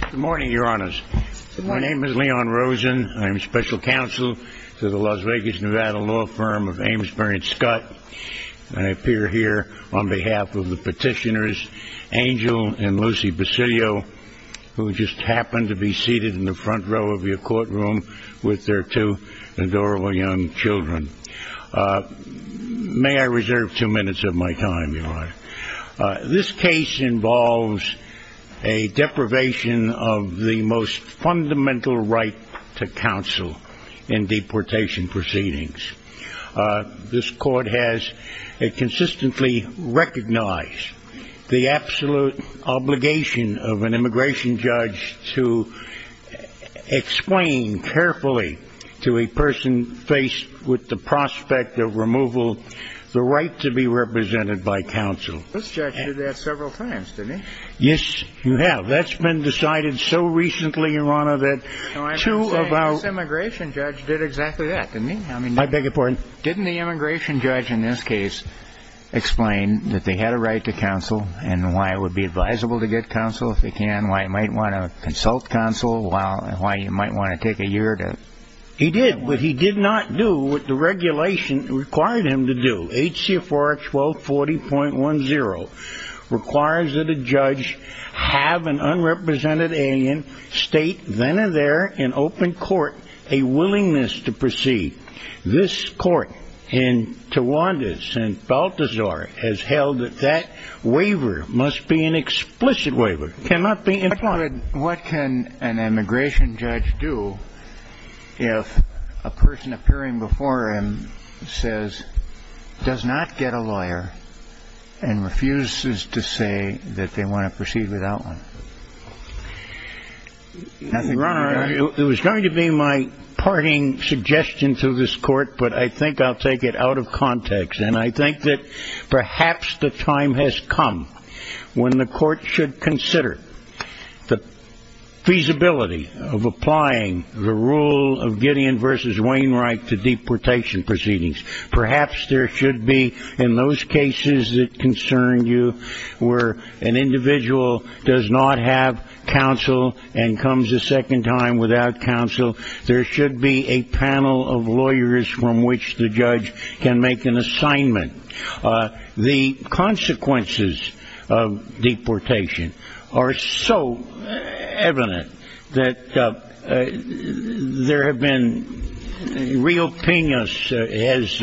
Good morning, your honors. My name is Leon Rosen. I'm special counsel to the Las Vegas, Nevada, law firm of Ames Bryant-Skutt. I appear here on behalf of the petitioners, Angel and Lucy Bacilio, who just happen to be seated in the front row of your courtroom with their two adorable young children. May I reserve two minutes of my time, your honor? This case involves a deprivation of the most fundamental right to counsel in deportation proceedings. This court has consistently recognized the absolute obligation of an immigration judge to explain carefully to a person faced with the prospect of removal the right to be represented by counsel. This judge did that several times, didn't he? Yes, you have. That's been decided so recently, your honor, that two of our... No, I'm saying this immigration judge did exactly that, didn't he? I beg your pardon? Didn't the immigration judge in this case explain that they had a right to counsel and why it would be advisable to get counsel if they can, why you might want to consult counsel, why you might want to take a year to... He did, but he did not do what the regulation required him to do. H.C.A. 41240.10 requires that a judge have an unrepresented alien state then and there in open court a willingness to proceed. This court in Tawandis and Balthazar has held that that waiver must be an explicit waiver, cannot be implied. What can an immigration judge do if a person appearing before him says, does not get a lawyer and refuses to say that they want to proceed without one? Your honor, it was going to be my parting suggestion to this court, but I think I'll take it out of context, and I think that perhaps the time has come when the court should consider the feasibility of applying the rule of Gideon v. Wainwright to deportation proceedings. Perhaps there should be, in those cases that concern you, where an individual does not have counsel and comes a second time without counsel, there should be a panel of lawyers from which the judge can make an assignment. The consequences of deportation are so evident that there have been, Rio Penas has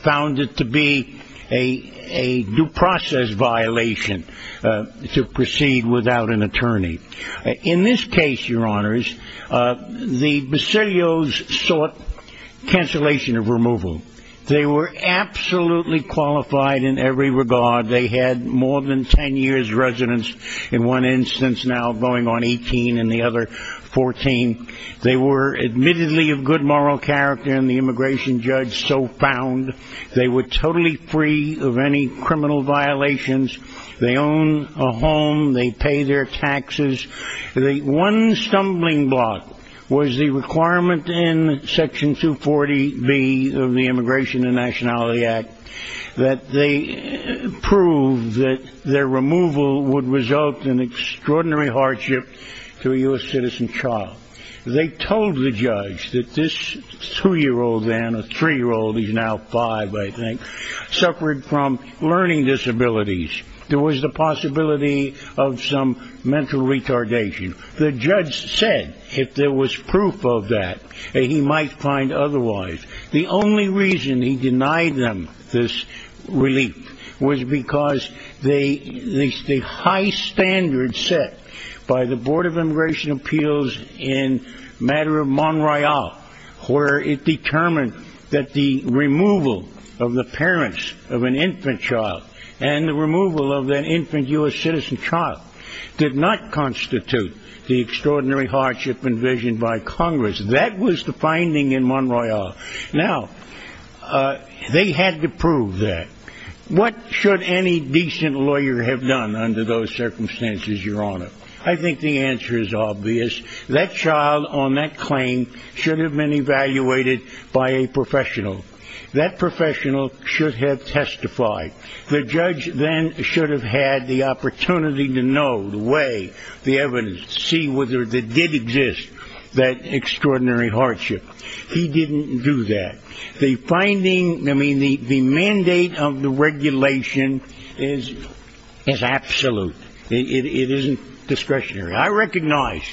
found it to be a due process violation to proceed without an attorney. In this case, your honors, the Basilios sought cancellation of removal. They were absolutely qualified in every regard. They had more than ten years residence, in one instance now going on 18 and the other 14. They were admittedly of good moral character, and the immigration judge so found. They were totally free of any criminal violations. They own a home. They pay their taxes. The one stumbling block was the requirement in Section 240B of the Immigration and Nationality Act that they prove that their removal would result in extraordinary hardship to a U.S. citizen child. They told the judge that this two-year-old then, a three-year-old, he's now five, I think, suffered from learning disabilities. There was the possibility of some mental retardation. The judge said, if there was proof of that, that he might find otherwise. The only reason he denied them this relief was because the high standards set by the Board of Immigration Appeals in matter of Montreal, where it determined that the removal of the parents of an infant child and the removal of an infant U.S. citizen child did not constitute the extraordinary hardship envisioned by Congress. That was the finding in Montreal. Now, they had to prove that. What should any decent lawyer have done under those circumstances, Your Honor? I think the answer is obvious. That child on that claim should have been evaluated by a professional. That professional should have testified. The judge then should have had the opportunity to know, weigh the evidence, see whether there did exist that extraordinary hardship. He didn't do that. The finding, I mean, the mandate of the regulation is absolute. It isn't discretionary. I recognize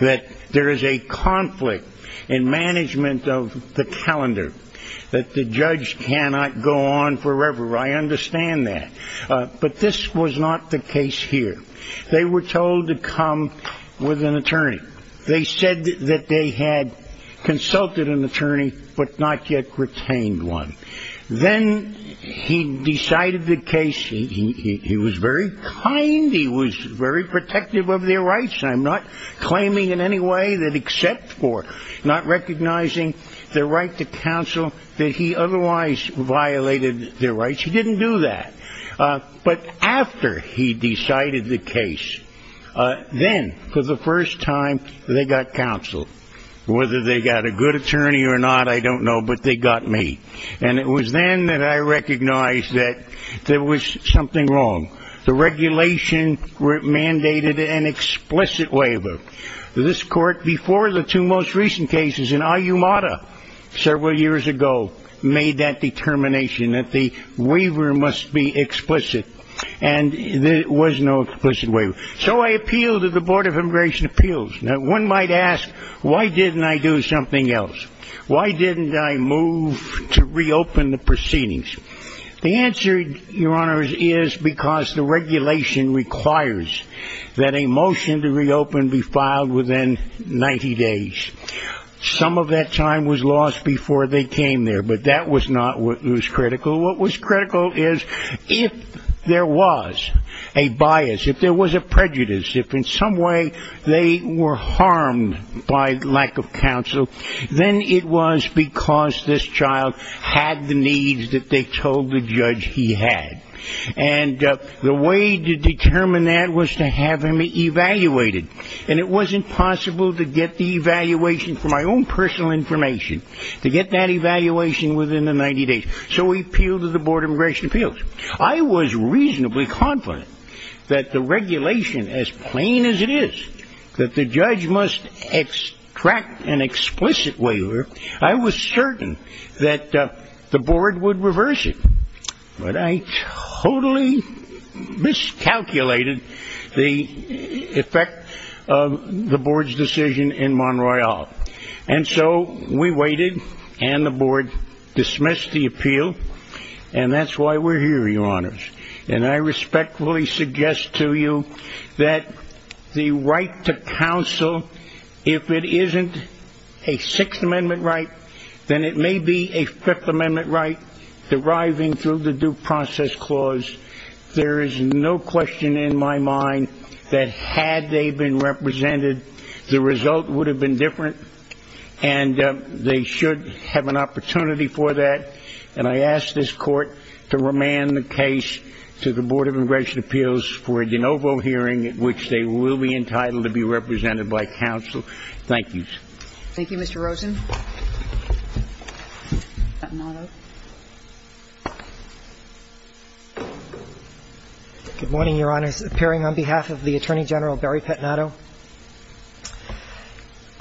that there is a conflict in management of the calendar. That the judge cannot go on forever. I understand that. But this was not the case here. They were told to come with an attorney. They said that they had consulted an attorney but not yet retained one. Then he decided the case. He was very kind. He was very protective of their rights. I'm not claiming in any way that except for not recognizing their right to counsel, that he otherwise violated their rights. He didn't do that. But after he decided the case, then for the first time they got counseled. Whether they got a good attorney or not, I don't know, but they got me. And it was then that I recognized that there was something wrong. The regulation mandated an explicit waiver. This court, before the two most recent cases in Ayumara several years ago, made that determination that the waiver must be explicit. And there was no explicit waiver. So I appealed to the Board of Immigration Appeals. Now, one might ask, why didn't I do something else? Why didn't I move to reopen the proceedings? The answer, Your Honors, is because the regulation requires that a motion to reopen be filed within 90 days. Some of that time was lost before they came there, but that was not what was critical. What was critical is if there was a bias, if there was a prejudice, if in some way they were harmed by lack of counsel, then it was because this child had the needs that they told the judge he had. And the way to determine that was to have him evaluated. And it wasn't possible to get the evaluation from my own personal information, to get that evaluation within the 90 days. So we appealed to the Board of Immigration Appeals. I was reasonably confident that the regulation, as plain as it is, that the judge must extract an explicit waiver, I was certain that the Board would reverse it. But I totally miscalculated the effect of the Board's decision in Monroy Hall. And so we waited, and the Board dismissed the appeal, and that's why we're here, Your Honors. And I respectfully suggest to you that the right to counsel, if it isn't a Sixth Amendment right, then it may be a Fifth Amendment right deriving through the Due Process Clause. There is no question in my mind that had they been represented, the result would have been different, and they should have an opportunity for that. And I ask this Court to remand the case to the Board of Immigration Appeals for a de novo hearing at which they will be entitled to be represented by counsel. Thank you. Thank you, Mr. Rosen. Good morning, Your Honors. Appearing on behalf of the Attorney General, Barry Pettinato.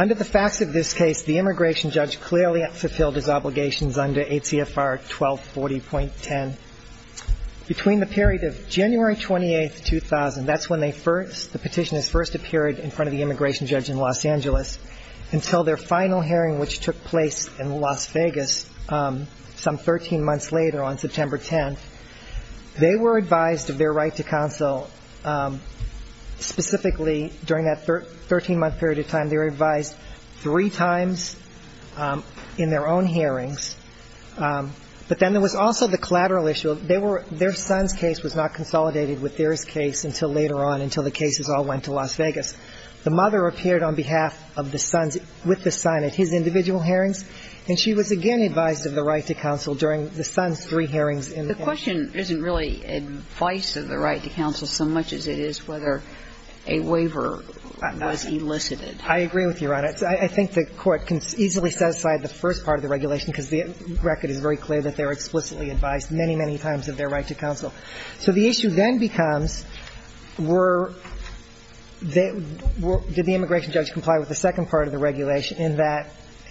Under the facts of this case, the immigration judge clearly fulfilled his obligations under ACFR 1240.10. Between the period of January 28, 2000, that's when they first, the petitioners first appeared in front of the immigration judge in Los Angeles, until their final hearing which took place in Las Vegas some 13 months later on September 10. They were advised of their right to counsel, specifically during that 13-month period of time, they were advised three times in their own hearings. But then there was also the collateral issue. So they were, their son's case was not consolidated with their's case until later on, until the cases all went to Las Vegas. The mother appeared on behalf of the sons with the son at his individual hearings, and she was again advised of the right to counsel during the son's three hearings in the country. The question isn't really advice of the right to counsel so much as it is whether a waiver was elicited. I agree with you, Your Honor. I think the Court can easily set aside the first part of the regulation because the record is very clear that they were explicitly advised many, many times of their right to counsel. So the issue then becomes were, did the immigration judge comply with the second part of the regulation in that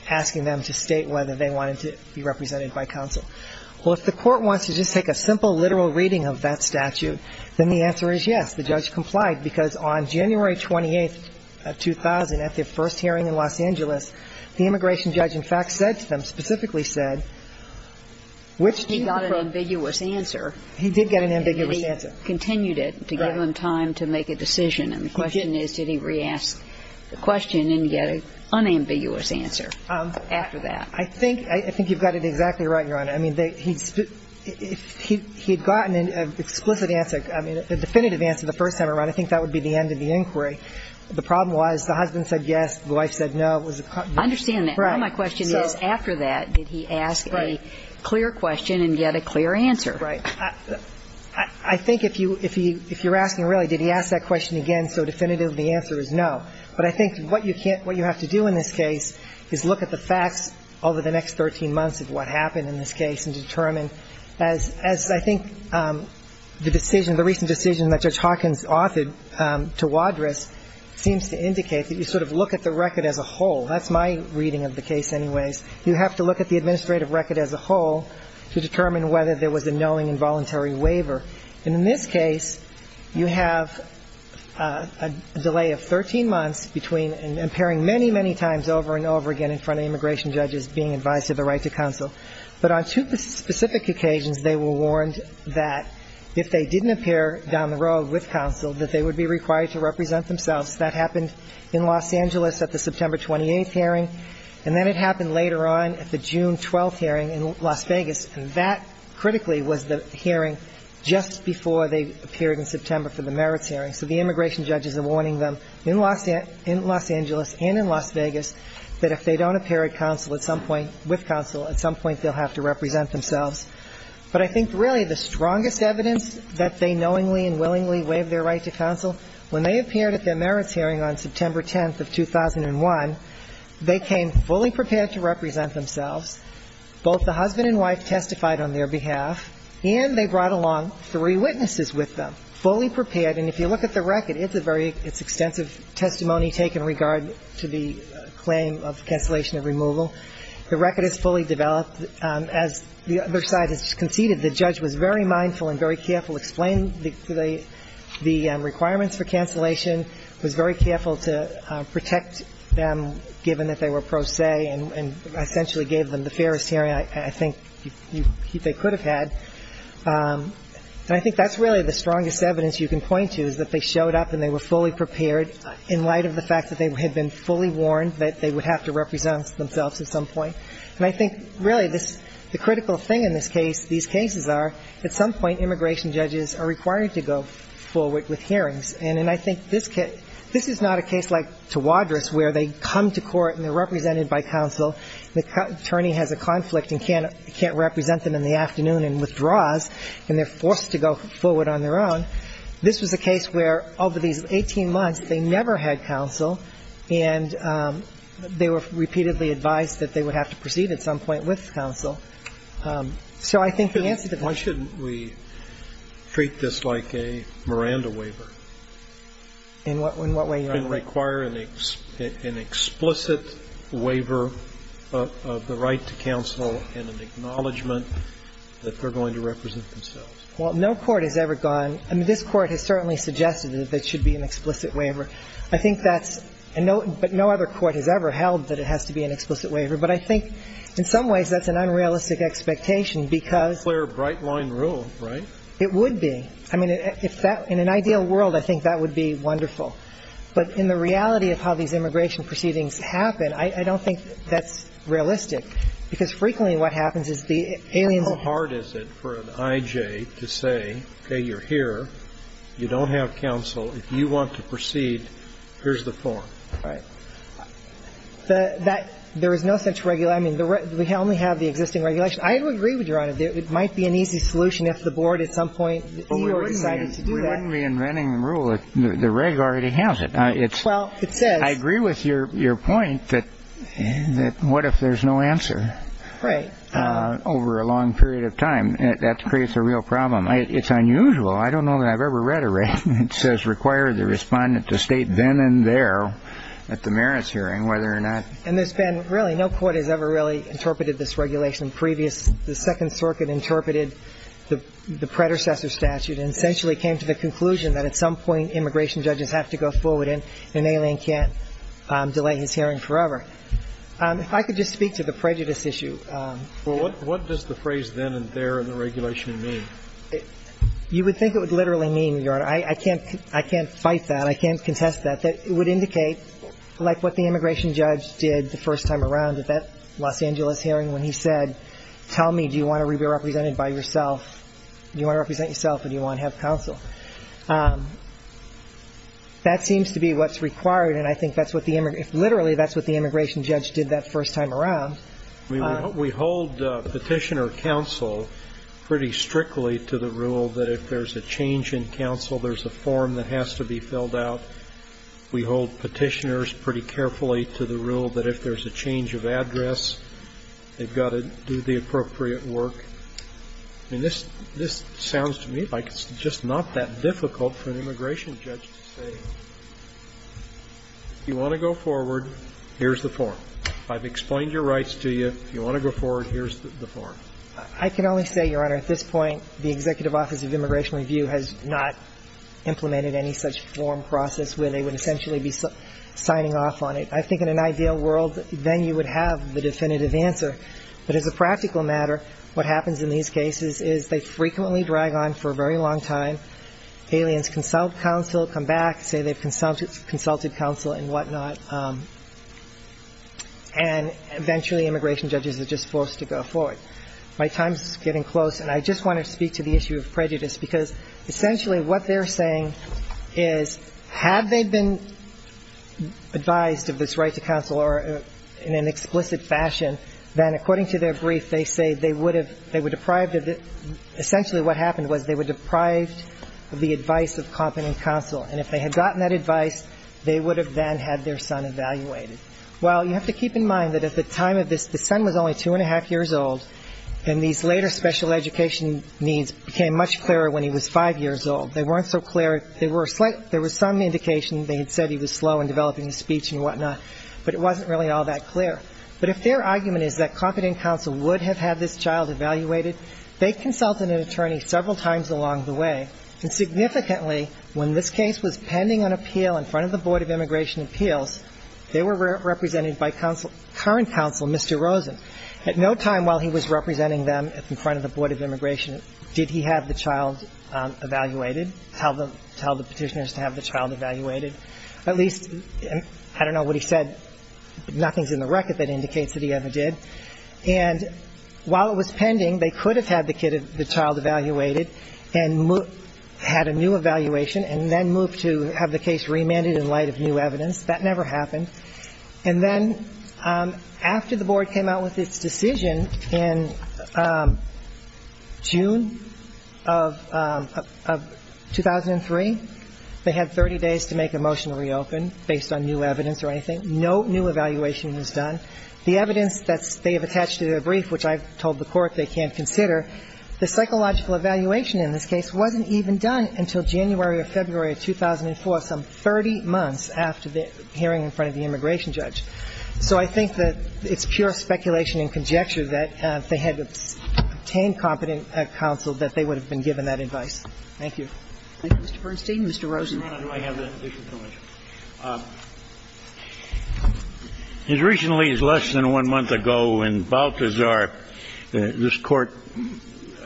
asking them to state whether they wanted to be represented by counsel? Well, if the Court wants to just take a simple literal reading of that statute, then the answer is yes. The judge complied because on January 28, 2000, at their first hearing in Los Angeles, the immigration judge, in fact, said to them, specifically said, which do you prefer? He got an ambiguous answer. He did get an ambiguous answer. And he continued it to give them time to make a decision. And the question is, did he re-ask the question and get an unambiguous answer after that? I think you've got it exactly right, Your Honor. I mean, he had gotten an explicit answer, I mean, a definitive answer the first time around. I think that would be the end of the inquiry. The problem was the husband said yes, the wife said no. It was a concern. I understand that. All my question is, after that, did he ask a clear question and get a clear answer? Right. I think if you're asking, really, did he ask that question again so definitively, the answer is no. But I think what you have to do in this case is look at the facts over the next 13 months of what happened in this case and determine, as I think the decision, that Judge Hawkins authored to Wadriss seems to indicate that you sort of look at the record as a whole. That's my reading of the case anyways. You have to look at the administrative record as a whole to determine whether there was a knowing involuntary waiver. And in this case, you have a delay of 13 months between impairing many, many times over and over again in front of immigration judges being advised of the right to counsel. But on two specific occasions, they were warned that if they didn't appear down the road with counsel, that they would be required to represent themselves. That happened in Los Angeles at the September 28th hearing, and then it happened later on at the June 12th hearing in Las Vegas. And that, critically, was the hearing just before they appeared in September for the merits hearing. So the immigration judges are warning them in Los Angeles and in Las Vegas that if they don't appear with counsel, at some point they'll have to represent themselves. But I think really the strongest evidence that they knowingly and willingly waived their right to counsel, when they appeared at their merits hearing on September 10th of 2001, they came fully prepared to represent themselves. Both the husband and wife testified on their behalf, and they brought along three witnesses with them, fully prepared. And if you look at the record, it's a very ‑‑ it's extensive testimony taken in regard to the claim of cancellation of removal. The record is fully developed. As the other side has conceded, the judge was very mindful and very careful, explained the requirements for cancellation, was very careful to protect them, given that they were pro se, and essentially gave them the fairest hearing I think they could have had. And I think that's really the strongest evidence you can point to, is that they had been fully warned that they would have to represent themselves at some point. And I think really the critical thing in this case, these cases are, at some point immigration judges are required to go forward with hearings. And I think this is not a case like Tawadros, where they come to court and they're represented by counsel. The attorney has a conflict and can't represent them in the afternoon and withdraws, and they're forced to go forward on their own. This was a case where, over these 18 months, they never had counsel, and they were repeatedly advised that they would have to proceed at some point with counsel. So I think the answer to that ‑‑ Why shouldn't we treat this like a Miranda waiver? In what way? And require an explicit waiver of the right to counsel and an acknowledgement that they're going to represent themselves. Well, no court has ever gone ‑‑ I mean, this Court has certainly suggested that there should be an explicit waiver. I think that's ‑‑ but no other court has ever held that it has to be an explicit waiver. But I think in some ways that's an unrealistic expectation, because ‑‑ It's a clear, bright-line rule, right? It would be. I mean, if that ‑‑ in an ideal world, I think that would be wonderful. But in the reality of how these immigration proceedings happen, I don't think that's realistic, because frequently what happens is the aliens ‑‑ How hard is it for an I.J. to say, okay, you're here, you don't have counsel, if you want to proceed, here's the form. Right. There is no such regular ‑‑ I mean, we only have the existing regulation. I would agree with Your Honor that it might be an easy solution if the board at some point decided to do that. But we wouldn't be inventing the rule if the reg already has it. Well, it says ‑‑ I agree with your point that what if there's no answer? Right. Over a long period of time. That creates a real problem. It's unusual. I don't know that I've ever read a regulation that says require the respondent to state then and there at the merits hearing whether or not ‑‑ And there's been really ‑‑ no court has ever really interpreted this regulation. Previous ‑‑ the Second Circuit interpreted the predecessor statute and essentially came to the conclusion that at some point immigration judges have to go forward, and an alien can't delay his hearing forever. If I could just speak to the prejudice issue. Well, what does the phrase then and there in the regulation mean? You would think it would literally mean, Your Honor, I can't fight that. I can't contest that. It would indicate like what the immigration judge did the first time around at that Los Angeles hearing when he said, tell me, do you want to be represented by yourself? Do you want to represent yourself or do you want to have counsel? That seems to be what's required, and I think that's what the ‑‑ literally that's what the immigration judge did that first time around. We hold petitioner counsel pretty strictly to the rule that if there's a change in counsel, there's a form that has to be filled out. We hold petitioners pretty carefully to the rule that if there's a change of address, they've got to do the appropriate work. And this sounds to me like it's just not that difficult for an immigration judge to say, if you want to go forward, here's the form. I've explained your rights to you. If you want to go forward, here's the form. I can only say, Your Honor, at this point, the Executive Office of Immigration Review has not implemented any such form process where they would essentially be signing off on it. I think in an ideal world, then you would have the definitive answer. But as a practical matter, what happens in these cases is they frequently drag on for a very long time. Aliens consult counsel, come back, say they've consulted counsel and whatnot, and eventually immigration judges are just forced to go forward. My time is getting close, and I just want to speak to the issue of prejudice because essentially what they're saying is, have they been advised of this right to counsel in an explicit fashion, then according to their brief, they say they would have been deprived of it. The advice of competent counsel, and if they had gotten that advice, they would have then had their son evaluated. Well, you have to keep in mind that at the time of this, the son was only two and a half years old, and these later special education needs became much clearer when he was five years old. They weren't so clear. There was some indication they had said he was slow in developing his speech and whatnot, but it wasn't really all that clear. But if their argument is that competent counsel would have had this child evaluated, they consulted an attorney several times along the way, and significantly when this case was pending an appeal in front of the Board of Immigration Appeals, they were represented by current counsel, Mr. Rosen. At no time while he was representing them in front of the Board of Immigration did he have the child evaluated, tell the Petitioners to have the child evaluated. At least, I don't know what he said, but nothing's in the record that indicates that he ever did. And while it was pending, they could have had the child evaluated and had a new evaluation and then moved to have the case remanded in light of new evidence. That never happened. And then after the Board came out with its decision in June of 2003, they had 30 days to make a motion to reopen based on new evidence or anything. No new evaluation was done. The evidence that they have attached to their brief, which I've told the Court they can't consider, the psychological evaluation in this case wasn't even done until January or February of 2004, some 30 months after the hearing in front of the immigration judge. So I think that it's pure speculation and conjecture that if they had obtained competent counsel, that they would have been given that advice. Thank you. Thank you, Mr. Bernstein. Mr. Rosen. As recently as less than one month ago in Balthazar, this court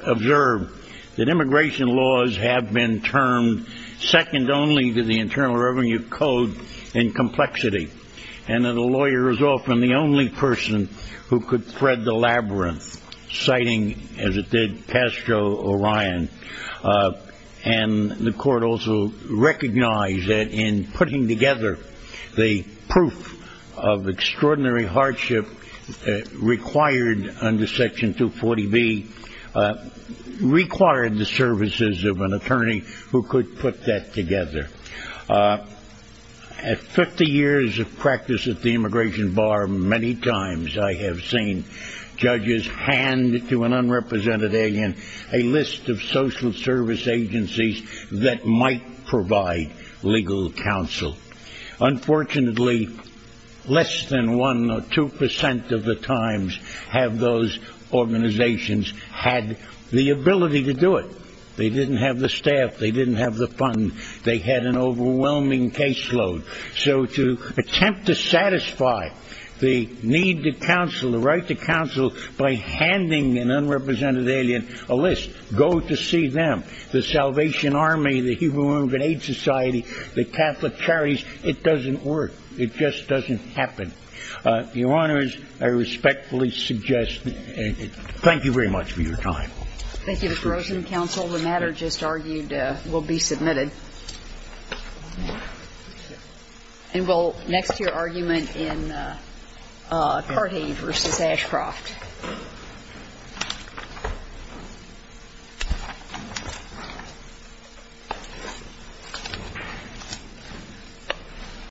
observed that immigration laws have been termed second only to the Internal Revenue Code in complexity and that a lawyer is often the only person who could thread the labyrinth, citing, as it did, Castro or Ryan. And the court also recognized that in putting together the proof of extraordinary hardship required under Section 240B, required the services of an attorney who could put that together. At 50 years of practice at the immigration bar, many times I have seen judges hand to an unrepresented alien a list of social service agencies that might provide legal counsel. Unfortunately, less than one or two percent of the times have those organizations had the ability to do it. They didn't have the staff. They didn't have the funds. They had an overwhelming caseload. So to attempt to satisfy the need to counsel, the right to counsel, by handing an unrepresented alien a list, go to see them, the Salvation Army, the Human Rights Society, the Catholic Charities. It doesn't work. It just doesn't happen. Your Honors, I respectfully suggest, thank you very much for your time. Thank you, Mr. Rosen. Counsel. The matter just argued will be submitted. And we'll next hear argument in Carthage v. Ashcroft.